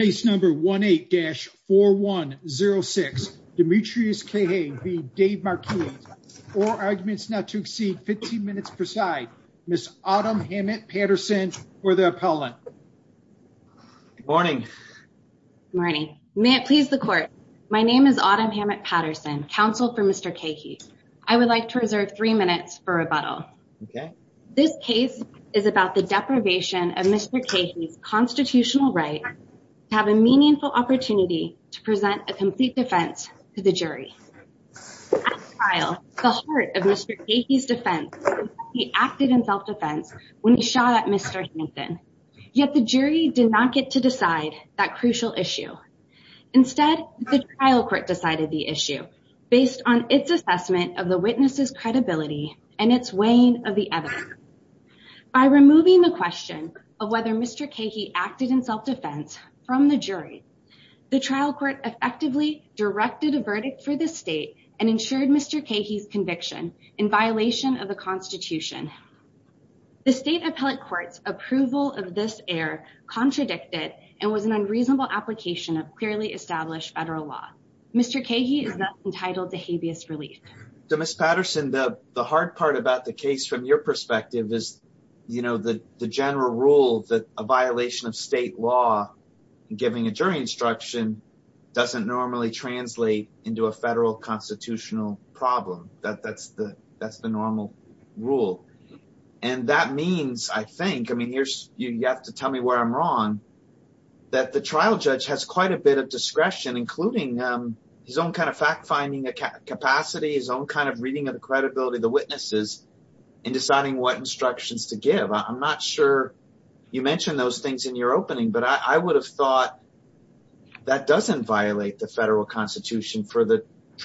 Case number 18-4106. Demetreus Keahey v. Dave Marquis. Four arguments not to exceed 15 minutes per side. Ms. Autumn Hammett-Patterson for the appellant. Good morning. Good morning. May it please the court. My name is Autumn Hammett-Patterson, counsel for Mr. Keahey. I would like to reserve three minutes for rebuttal. Okay. This case is about the deprivation of Mr. Keahey's constitutional right to have a meaningful opportunity to present a complete defense to the jury. At the trial, the heart of Mr. Keahey's defense was that he acted in self-defense when he shot at Mr. Hankin, yet the jury did not get to decide that crucial issue. Instead, the trial court decided the issue based on its assessment of the witness's credibility and its weighing of the evidence. By removing the question of whether Mr. Keahey acted in self-defense from the jury, the trial court effectively directed a verdict for the state and ensured Mr. Keahey's conviction in violation of the Constitution. The state appellate court's approval of this error contradicted and was an unreasonable application of established federal law. Mr. Keahey is now entitled to habeas relief. So, Ms. Patterson, the hard part about the case from your perspective is, you know, the general rule that a violation of state law giving a jury instruction doesn't normally translate into a federal constitutional problem. That's the normal rule. And that means, I mean, you have to tell me where I'm wrong, that the trial judge has quite a bit of discretion, including his own kind of fact-finding capacity, his own kind of reading of the credibility of the witnesses in deciding what instructions to give. I'm not sure you mentioned those things in your opening, but I would have thought that doesn't violate the federal Constitution for the trial would have thought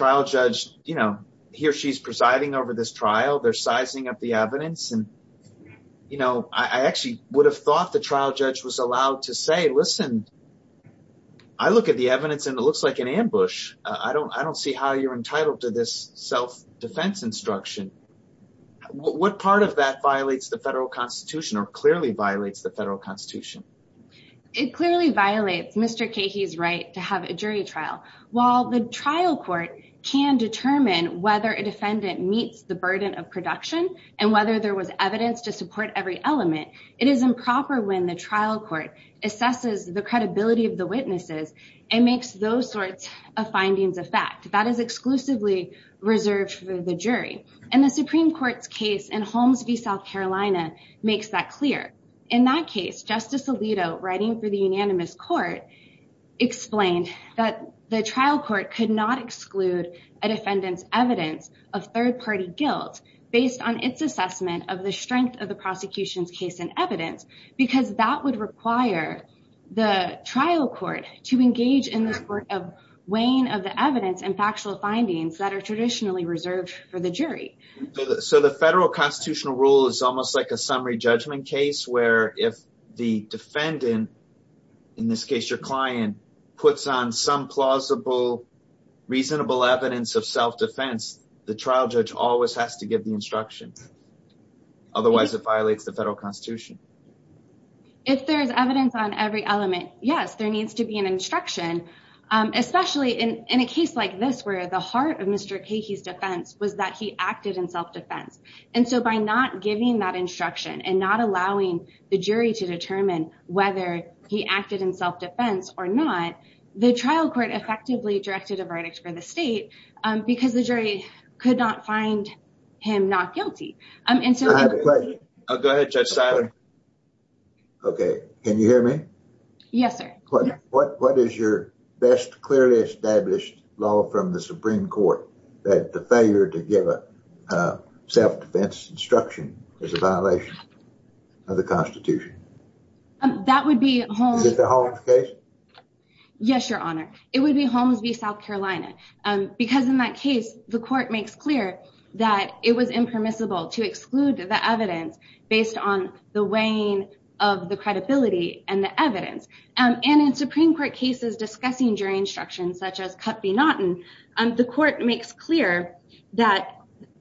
the trial judge was allowed to say, listen, I look at the evidence and it looks like an ambush. I don't see how you're entitled to this self-defense instruction. What part of that violates the federal Constitution or clearly violates the federal Constitution? It clearly violates Mr. Keahey's right to have a jury trial. While the trial court can determine whether a defendant meets the burden of production and whether there was evidence to support every element, it is improper when the trial court assesses the credibility of the witnesses and makes those sorts of findings a fact. That is exclusively reserved for the jury. And the Supreme Court's case in Holmes v. South Carolina makes that clear. In that case, Justice Alito, writing for the unanimous court, explained that the trial court could not exclude a defendant's evidence of third-party guilt based on its assessment of the strength of the prosecution's case and evidence, because that would require the trial court to engage in the weighing of the evidence and factual findings that are traditionally reserved for the jury. So the federal constitutional rule is almost like a summary judgment case where if the defendant, in this case, your client, puts on some plausible, reasonable evidence of self-defense, the trial judge always has to give the instruction. Otherwise, it violates the federal Constitution. If there is evidence on every element, yes, there needs to be an instruction, especially in a case like this where the heart of Mr. Keahey's defense was that he acted in self-defense. And so by not giving that instruction and not allowing the jury to determine whether he acted in self-defense or not, the trial court effectively directed a verdict for the state because the jury could not find him not guilty. I have a question. Go ahead, Judge Seiler. Okay. Can you hear me? Yes, sir. What is your best clearly established law from the Supreme Court that the failure to give a self-defense instruction is a violation of the Constitution? That would be Holmes v. South Carolina. Because in that case, the court makes clear that it was impermissible to exclude the evidence based on the weighing of the credibility and the evidence. And in Supreme Court cases discussing jury instruction, such as Cutt v. Naughton, the court makes clear that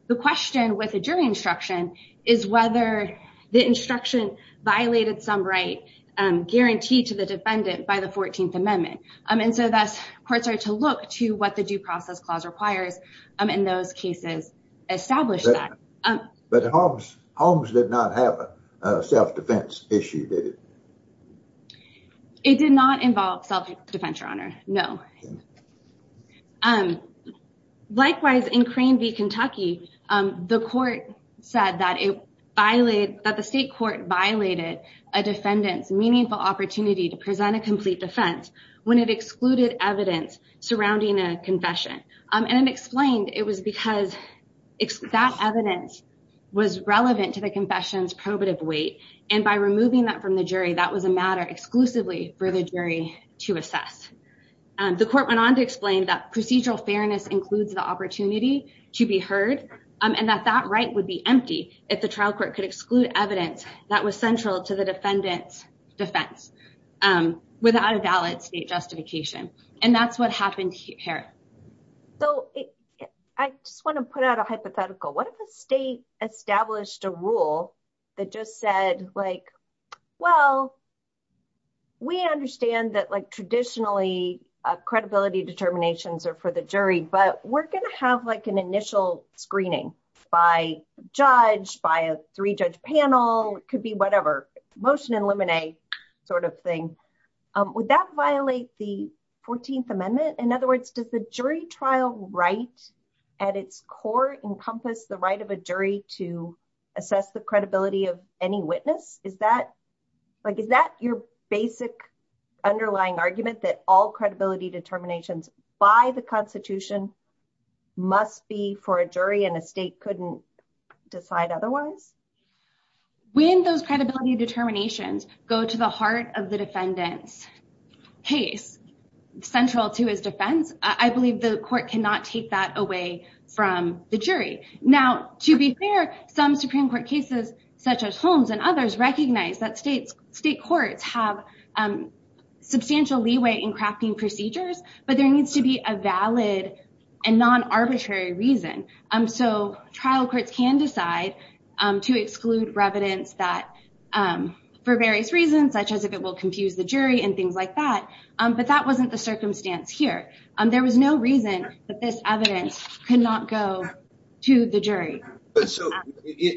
the question with a jury instruction is whether the instruction violated some right guaranteed to the defendant by the 14th Amendment. And so thus, courts are to look to what the due process clause requires in those cases establish that. But Holmes did not have a self-defense issue, did it? It did not involve self-defense, Your Honor. No. Likewise, in Crane v. Kentucky, the court said that the state court violated a defendant's meaningful opportunity to present a complete defense when it excluded evidence surrounding a confession. And it explained it was because that evidence was relevant to the confession's probative weight. And by removing that from the jury, that was a matter exclusively for the jury to assess. The court went on to and that that right would be empty if the trial court could exclude evidence that was central to the defendant's defense without a valid state justification. And that's what happened here. So I just want to put out a hypothetical. What if a state established a rule that just said, well, we understand that traditionally credibility determinations are for the jury, but we're going to have like an initial screening by judge, by a three-judge panel, could be whatever, motion and limine sort of thing. Would that violate the 14th Amendment? In other words, does the jury trial right at its core encompass the right of a jury to assess the credibility of any witness? Is that your basic underlying argument that all credibility determinations by the constitution must be for a jury and a state couldn't decide otherwise? When those credibility determinations go to the heart of the defendant's case, central to his defense, I believe the court cannot take that away from the jury. Now, to be fair, some Supreme Court cases such as Holmes and others recognize that state courts have substantial leeway in crafting procedures, but there needs to be a valid and non-arbitrary reason. So trial courts can decide to exclude evidence that for various reasons, such as if it will confuse the jury and things like that. But that wasn't the circumstance here. There was no reason that this evidence could not go to the jury. So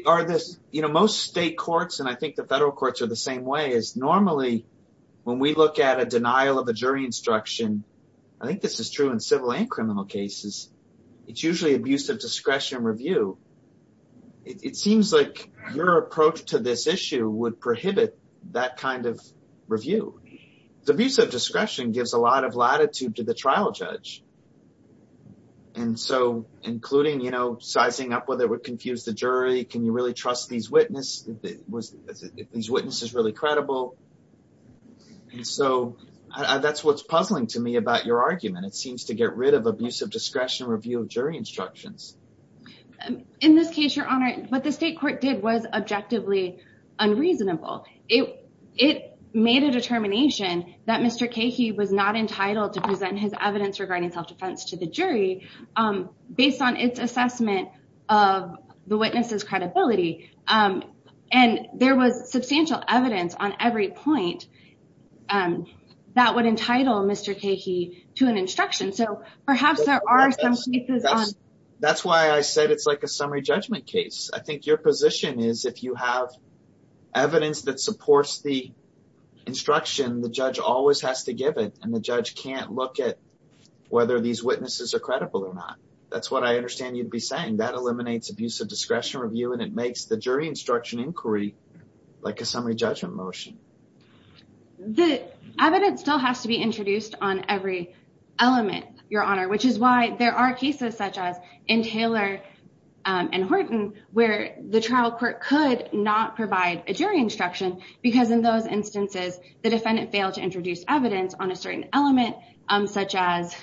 are this, you know, most state courts, and I think the federal courts are the same way, is normally when we look at a denial of a jury instruction, I think this is true in civil and criminal cases, it's usually abuse of discretion review. It seems like your approach to this issue would prohibit that kind of review. The abuse of discretion gives a lot of latitude to the trial judge. And so including, you know, sizing up whether it would confuse the jury, can you really trust these witnesses, if these witnesses are really credible. And so that's what's puzzling to me about your argument. It seems to get rid of abuse of discretion review of jury instructions. In this case, Your Honor, what the state court did was objectively unreasonable. It made a determination that Mr. Kahee was not entitled to present his assessment of the witness's credibility. And there was substantial evidence on every point that would entitle Mr. Kahee to an instruction. So perhaps there are some cases on... That's why I said it's like a summary judgment case. I think your position is if you have evidence that supports the instruction, the judge always has to give it and the judge can't look at whether these witnesses are credible or not. That's what I understand you'd be saying. That eliminates abuse of discretion review and it makes the jury instruction inquiry like a summary judgment motion. The evidence still has to be introduced on every element, Your Honor, which is why there are cases such as in Taylor and Horton where the trial court could not provide a jury instruction because in instances the defendant failed to introduce evidence on a certain element such as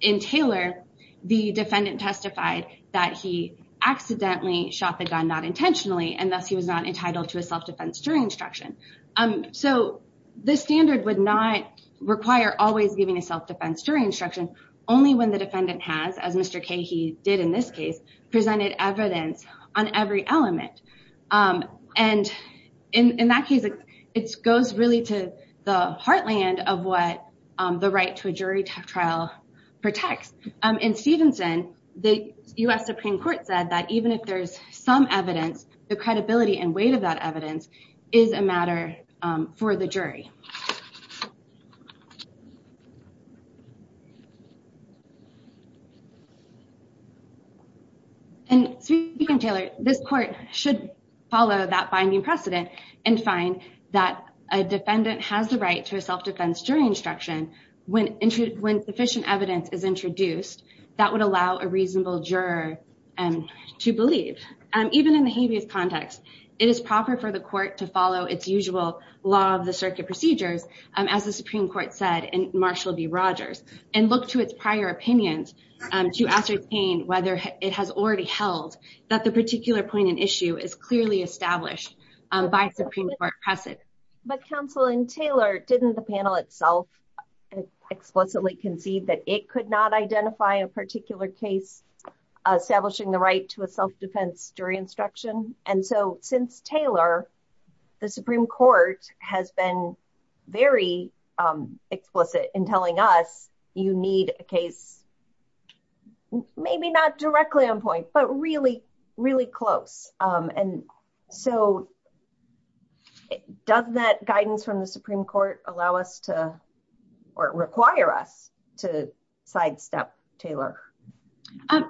in Taylor, the defendant testified that he accidentally shot the gun not intentionally and thus he was not entitled to a self-defense jury instruction. So the standard would not require always giving a self-defense jury instruction only when the defendant has, as Mr. Kahee did in this case, presented evidence on every element. And in that case, it goes really to the heartland of what the right to a jury trial protects. In Stevenson, the U.S. Supreme Court said that even if there's some evidence, the credibility and weight of that evidence is a matter for the jury. And speaking of Taylor, this court should follow that binding precedent and find that a defendant has the right to a self-defense jury instruction when sufficient evidence is introduced that would allow a reasonable juror to believe. Even in the habeas context, it is proper for the law of the circuit procedures, as the Supreme Court said in Marshall v. Rogers, and look to its prior opinions to ascertain whether it has already held that the particular point in issue is clearly established by Supreme Court precedent. But counsel, in Taylor, didn't the panel itself explicitly concede that it could not identify a particular case establishing the right to a jury trial? I mean, the Supreme Court has been very explicit in telling us you need a case, maybe not directly on point, but really, really close. And so, does that guidance from the Supreme Court allow us to, or require us to sidestep Taylor?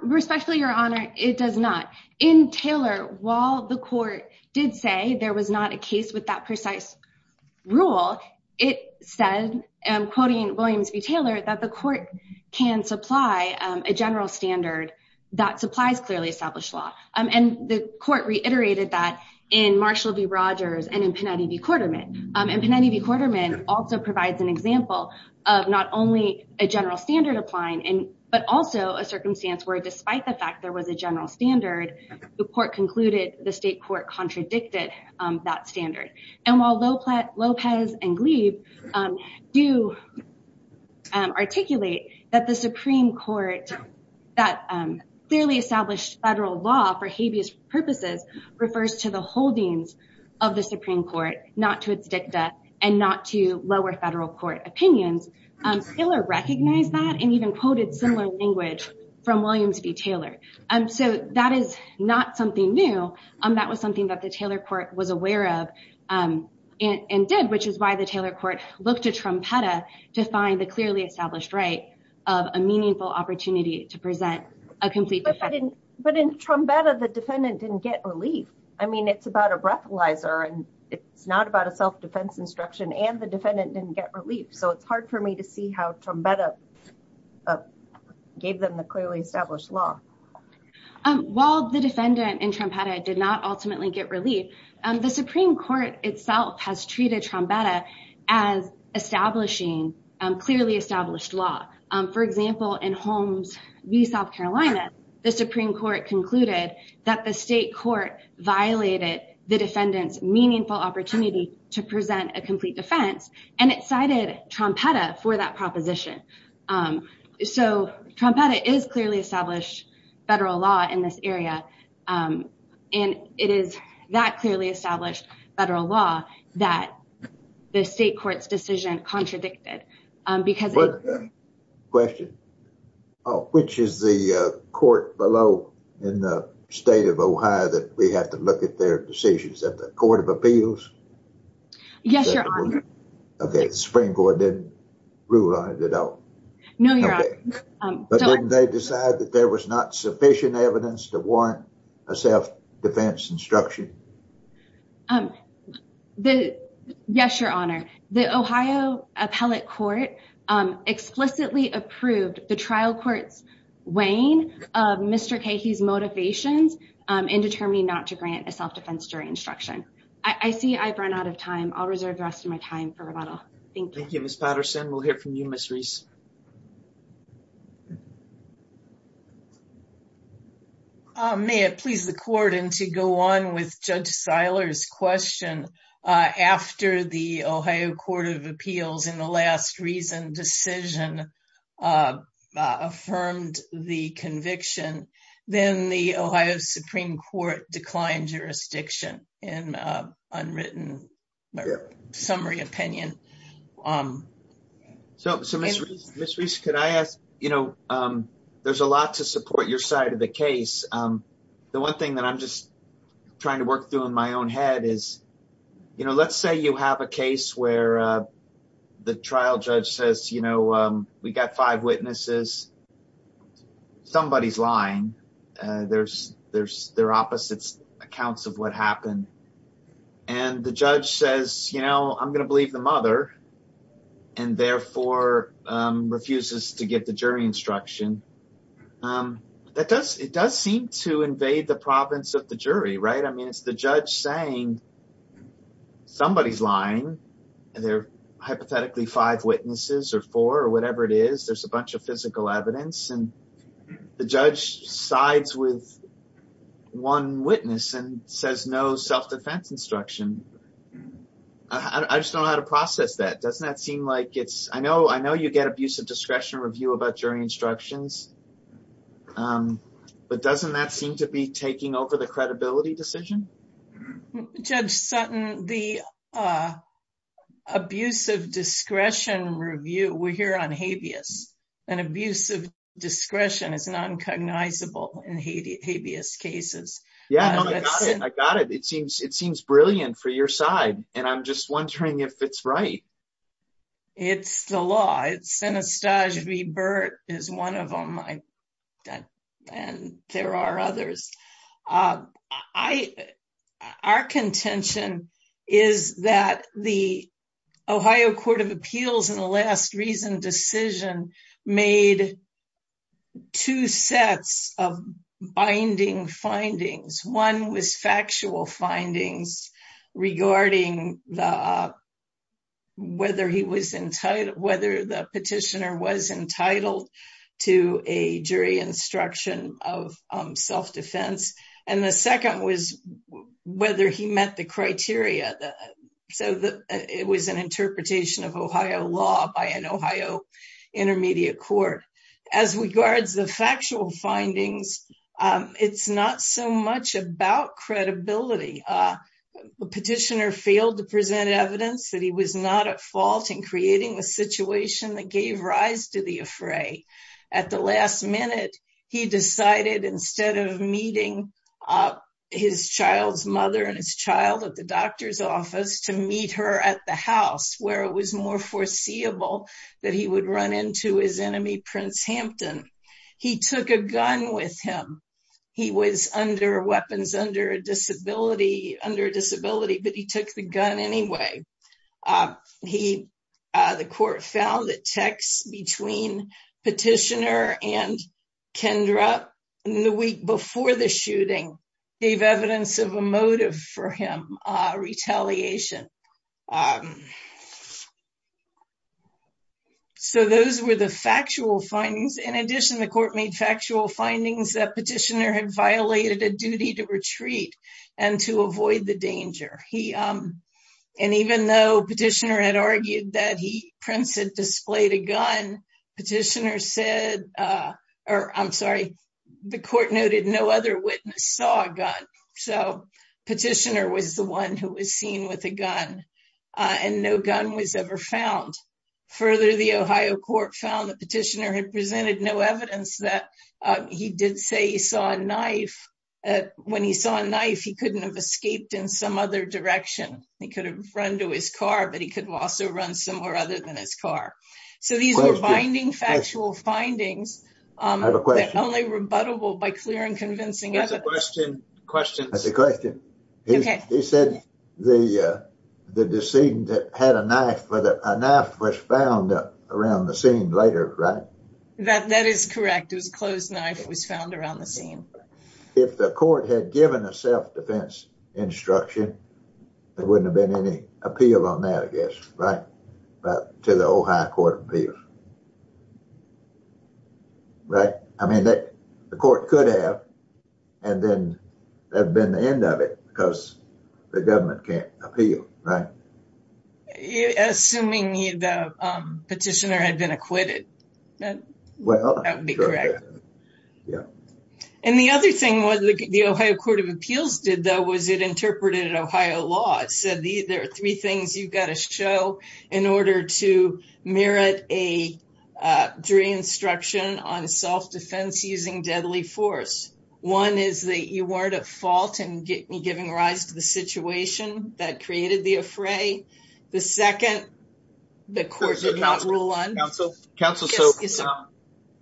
Respectfully, Your Honor, it does not. In Taylor, while the court did say there was not a case with precise rule, it said, and I'm quoting Williams v. Taylor, that the court can supply a general standard that supplies clearly established law. And the court reiterated that in Marshall v. Rogers and in Panetti v. Quarterman. And Panetti v. Quarterman also provides an example of not only a general standard applying, but also a circumstance where despite the fact there was a general standard, the court concluded the state court contradicted that standard. And while Lopez and Gleeve do articulate that the Supreme Court, that clearly established federal law for habeas purposes, refers to the holdings of the Supreme Court, not to its dicta, and not to lower federal court opinions, Taylor recognized that and even quoted similar language from Williams v. Taylor. So, that is not something new. That was something that the Taylor court was aware of and did, which is why the Taylor court looked to Trumpetta to find the clearly established right of a meaningful opportunity to present a complete defense. But in Trumpetta, the defendant didn't get relief. I mean, it's about a breathalyzer, and it's not about a self-defense instruction, and the defendant didn't get relief. So, it's hard for me to see how Trumpetta gave them the clearly established law. While the defendant in Trumpetta did not ultimately get relief, the Supreme Court itself has treated Trumpetta as establishing clearly established law. For example, in Holmes v. South Carolina, the Supreme Court concluded that the state court violated the defendant's complete defense, and it cited Trumpetta for that proposition. So, Trumpetta is clearly established federal law in this area, and it is that clearly established federal law that the state court's decision contradicted. Question. Which is the court below in the state of Ohio that we have to look at their decisions? Is that the court of appeals? Yes, Your Honor. Okay, the Supreme Court didn't rule on it at all. No, Your Honor. But didn't they decide that there was not sufficient evidence to warrant a self-defense instruction? Yes, Your Honor. The Ohio Appellate Court explicitly approved the trial court's weighing of Mr. Kahey's motivations in determining not grant a self-defense jury instruction. I see I've run out of time. I'll reserve the rest of my time for rebuttal. Thank you. Thank you, Ms. Patterson. We'll hear from you, Ms. Reese. May it please the court, and to go on with Judge Seiler's question, after the Ohio Court of Appeals in the last recent decision affirmed the conviction, then the Ohio Supreme Court declined jurisdiction in unwritten summary opinion. So, Ms. Reese, could I ask, you know, there's a lot to support your side of the case. The one thing that I'm just trying to work through in my own head is, you know, let's say you have a case where the trial judge says, you know, we got five witnesses, somebody's lying, there's their opposite accounts of what happened. And the judge says, you know, I'm going to believe the mother, and therefore refuses to get the jury instruction. That does, it does seem to invade the province of the jury, right? I mean, it's the judge saying, somebody's lying. And they're hypothetically five witnesses or four or whatever it is, there's a bunch of physical evidence. And the judge sides with one witness and says no self-defense instruction. I just don't know how to process that. Doesn't that seem like it's, I know, I know you get abusive discretion review about jury instructions. But doesn't that seem to be taking over the credibility decision? Judge Sutton, the abusive discretion review, we're here on habeas, and abusive discretion is non-cognizable in habeas cases. Yeah, I got it. It seems brilliant for your side. And I'm just wondering if it's right. It's the law. It's Anastasia B. Burt is one of them. And there are others. Our contention is that the Ohio Court of Appeals in the last recent decision made two sets of binding findings. One was factual findings regarding whether the petitioner was entitled to a jury instruction of self-defense. And the second was whether he met the criteria. So it was an interpretation of Ohio law by an Ohio intermediate court. As regards the factual findings, it's not so much about credibility. The petitioner failed to present evidence that he was not at fault in creating the situation that gave rise to the affray. At the last minute, he decided instead of meeting his child's mother and his child at the doctor's office to meet her at the house where it was more foreseeable that he would run into his enemy, Prince Hampton. He took a gun with him. He was under weapons, under a disability, under a disability, but he took the gun anyway. The court found that texts between petitioner and the petitioner did not show any signs of retaliation. So those were the factual findings. In addition, the court made factual findings that petitioner had violated a duty to retreat and to avoid the danger. And even though petitioner had argued that Prince had displayed a gun, petitioner said, or I'm sorry, the court noted no other witness saw a gun. So petitioner was the one who was seen with a gun and no gun was ever found. Further, the Ohio court found the petitioner had presented no evidence that he did say he saw a knife. When he saw a knife, he couldn't have escaped in some other direction. He could have run to his car, but he could also run somewhere other than his car. So these are binding factual findings that are only rebuttable by clear and convincing evidence. That's a question. He said the decedent had a knife, but a knife was found around the scene later, right? That is correct. It was a closed knife. It was found around the scene. If the court had given a self-defense instruction, there wouldn't have been any appeal on that, I guess, right? To the Ohio Court of Appeals. Right? I mean, the court could have, and then that would have been the end of it because the government can't appeal, right? Assuming the petitioner had been acquitted, that would be correct. Yeah. And the other thing the Ohio Court of Appeals did, though, was it interpreted Ohio law. It said there are three things you've got to show in order to merit a jury instruction on self-defense using deadly force. One is that you weren't at fault in giving rise to the situation that created the affray. The second, the court did not rule on. Counsel,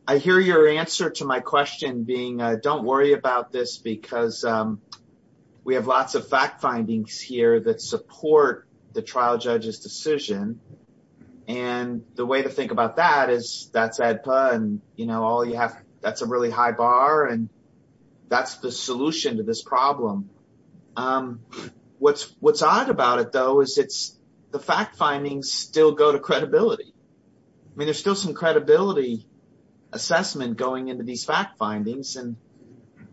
I hear your answer to my question being, don't worry about this because we have lots of fact findings here that support the trial judge's decision. And the way to think about that is that's AEDPA, and that's a really high bar, and that's the solution to this problem. What's odd about it, though, is the fact findings still go to credibility. I mean, there's still some credibility assessment going into these fact findings, and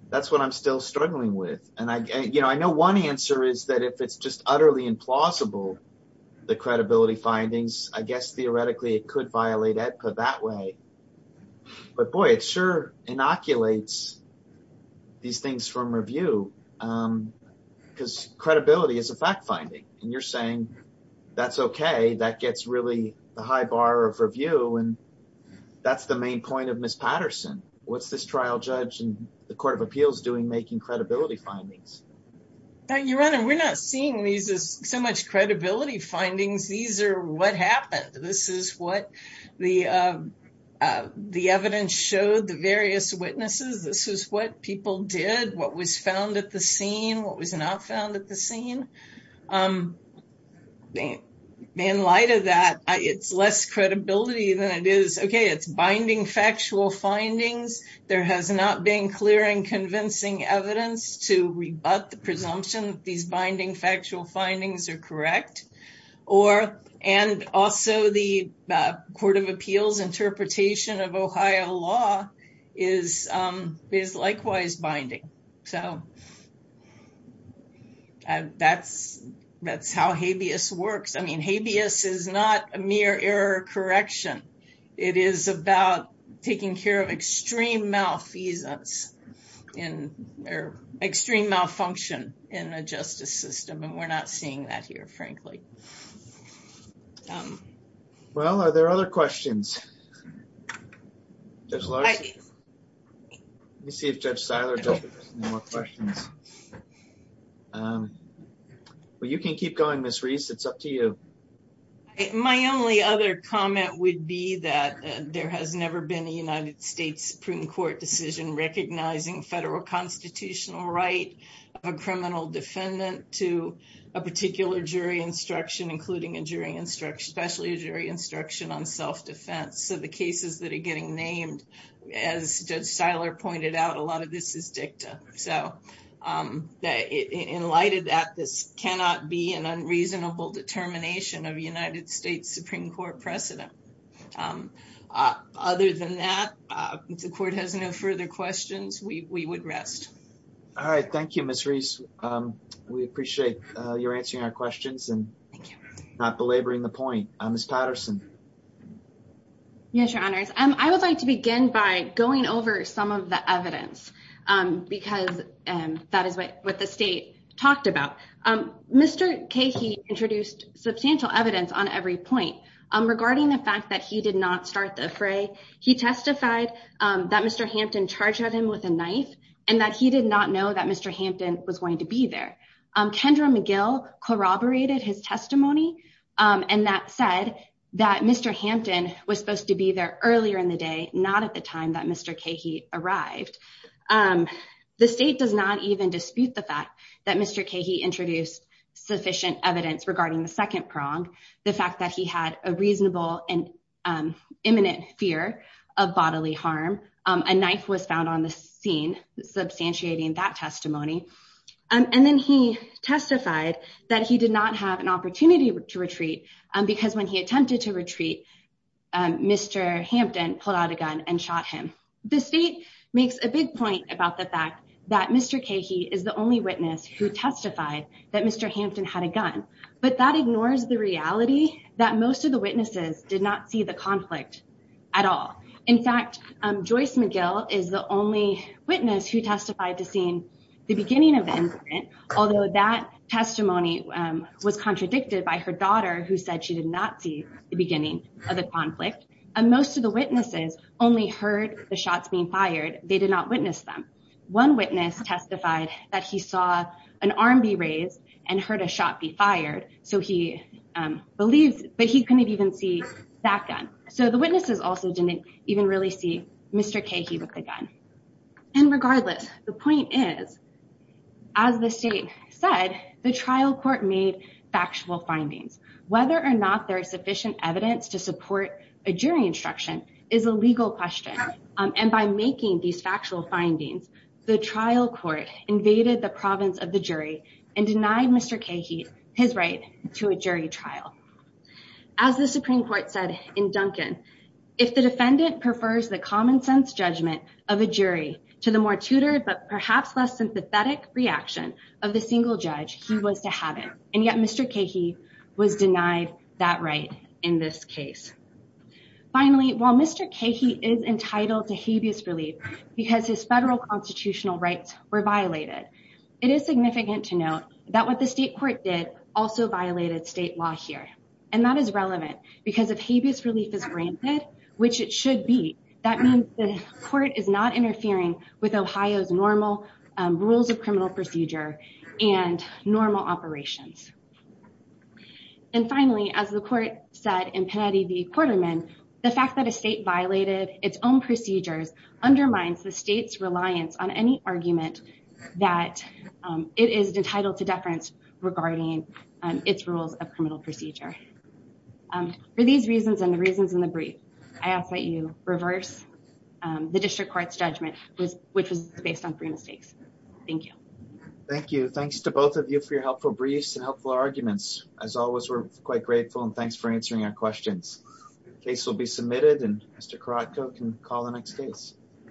that's what I'm still struggling with. I know one answer is that if it's just utterly implausible, the credibility findings, I guess, theoretically, it could violate AEDPA that way. But, boy, it sure inoculates these things from review because credibility is a fact finding, and you're saying that's okay. That gets really the high bar of review, and that's the main point of Ms. Patterson. What's this trial judge and the Court of Appeals doing making credibility findings? Now, Your Honor, we're not seeing these as so much credibility findings. These are what happened. This is what the evidence showed the various witnesses. This is what people did, what was found at the scene, what was not found at the scene. In light of that, it's less credibility than it is. Okay, it's binding factual findings. There has not been clear and convincing evidence to rebut the presumption that these binding factual findings are correct, and also the Court of Appeals interpretation of Ohio law is likewise binding. That's how habeas works. I mean, habeas is not a mere error correction. It is about taking care of extreme malfeasance or extreme malfunction in a justice system, and we're not seeing that here, frankly. Well, are there other questions? Let me see if Judge Siler has any more questions. You can keep going, Ms. Reese. It's up to you. My only other comment would be that there has never been a United States Supreme Court decision recognizing federal constitutional right of a criminal defendant to a particular jury instruction, including especially a jury instruction on self-defense. So the cases that are getting named, as Judge Siler pointed out, a lot of this is dicta. In light of that, this cannot be an unreasonable determination of a state Supreme Court precedent. Other than that, if the Court has no further questions, we would rest. All right. Thank you, Ms. Reese. We appreciate your answering our questions and not belaboring the point. Ms. Patterson. Yes, Your Honors. I would like to begin by going over some of the evidence because that is what the state talked about. Mr. Kahee introduced substantial evidence on every point regarding the fact that he did not start the fray. He testified that Mr. Hampton charged at him with a knife and that he did not know that Mr. Hampton was going to be there. Kendra McGill corroborated his testimony, and that said that Mr. Hampton was supposed to be there earlier in the day, not at the time that Mr. Kahee arrived. The state does not even dispute the fact that Mr. Kahee introduced sufficient evidence regarding the second prong, the fact that he had a reasonable and imminent fear of bodily harm. A knife was found on the scene, substantiating that testimony. And then he testified that he did not have an opportunity to retreat because when he attempted to retreat, Mr. Hampton pulled a gun and shot him. The state makes a big point about the fact that Mr. Kahee is the only witness who testified that Mr. Hampton had a gun, but that ignores the reality that most of the witnesses did not see the conflict at all. In fact, Joyce McGill is the only witness who testified to seeing the beginning of the incident, although that testimony was contradicted by her daughter, who said she did not see the beginning of the conflict. And most of the witnesses only heard the shots being fired. They did not witness them. One witness testified that he saw an arm be raised and heard a shot be fired, so he believed, but he couldn't even see that gun. So the witnesses also didn't even really see Mr. Kahee with the gun. And regardless, the point is, as the state said, the trial court made factual findings. Whether or not there is sufficient evidence to support a jury instruction is a legal question. And by making these factual findings, the trial court invaded the province of the jury and denied Mr. Kahee his right to a jury trial. As the Supreme Court said in Duncan, if the defendant prefers the common sense judgment of a jury to the more tutored but perhaps less sympathetic reaction of the single judge, he was to have it. And yet Mr. Kahee was denied that right in this case. Finally, while Mr. Kahee is entitled to habeas relief because his federal constitutional rights were violated, it is significant to note that what the state court did also violated state law here. And that is relevant because if habeas relief is granted, which it should be, that means the is not interfering with Ohio's normal rules of criminal procedure and normal operations. And finally, as the court said in Panetti v. Quarterman, the fact that a state violated its own procedures undermines the state's reliance on any argument that it is entitled to deference regarding its rules of criminal procedure. For these reasons and the reasons in the brief, I ask that you reverse the district court's judgment, which was based on three mistakes. Thank you. Thank you. Thanks to both of you for your helpful briefs and helpful arguments. As always, we're quite grateful and thanks for answering our questions. The case will be submitted and Mr. Karatko can call the next case.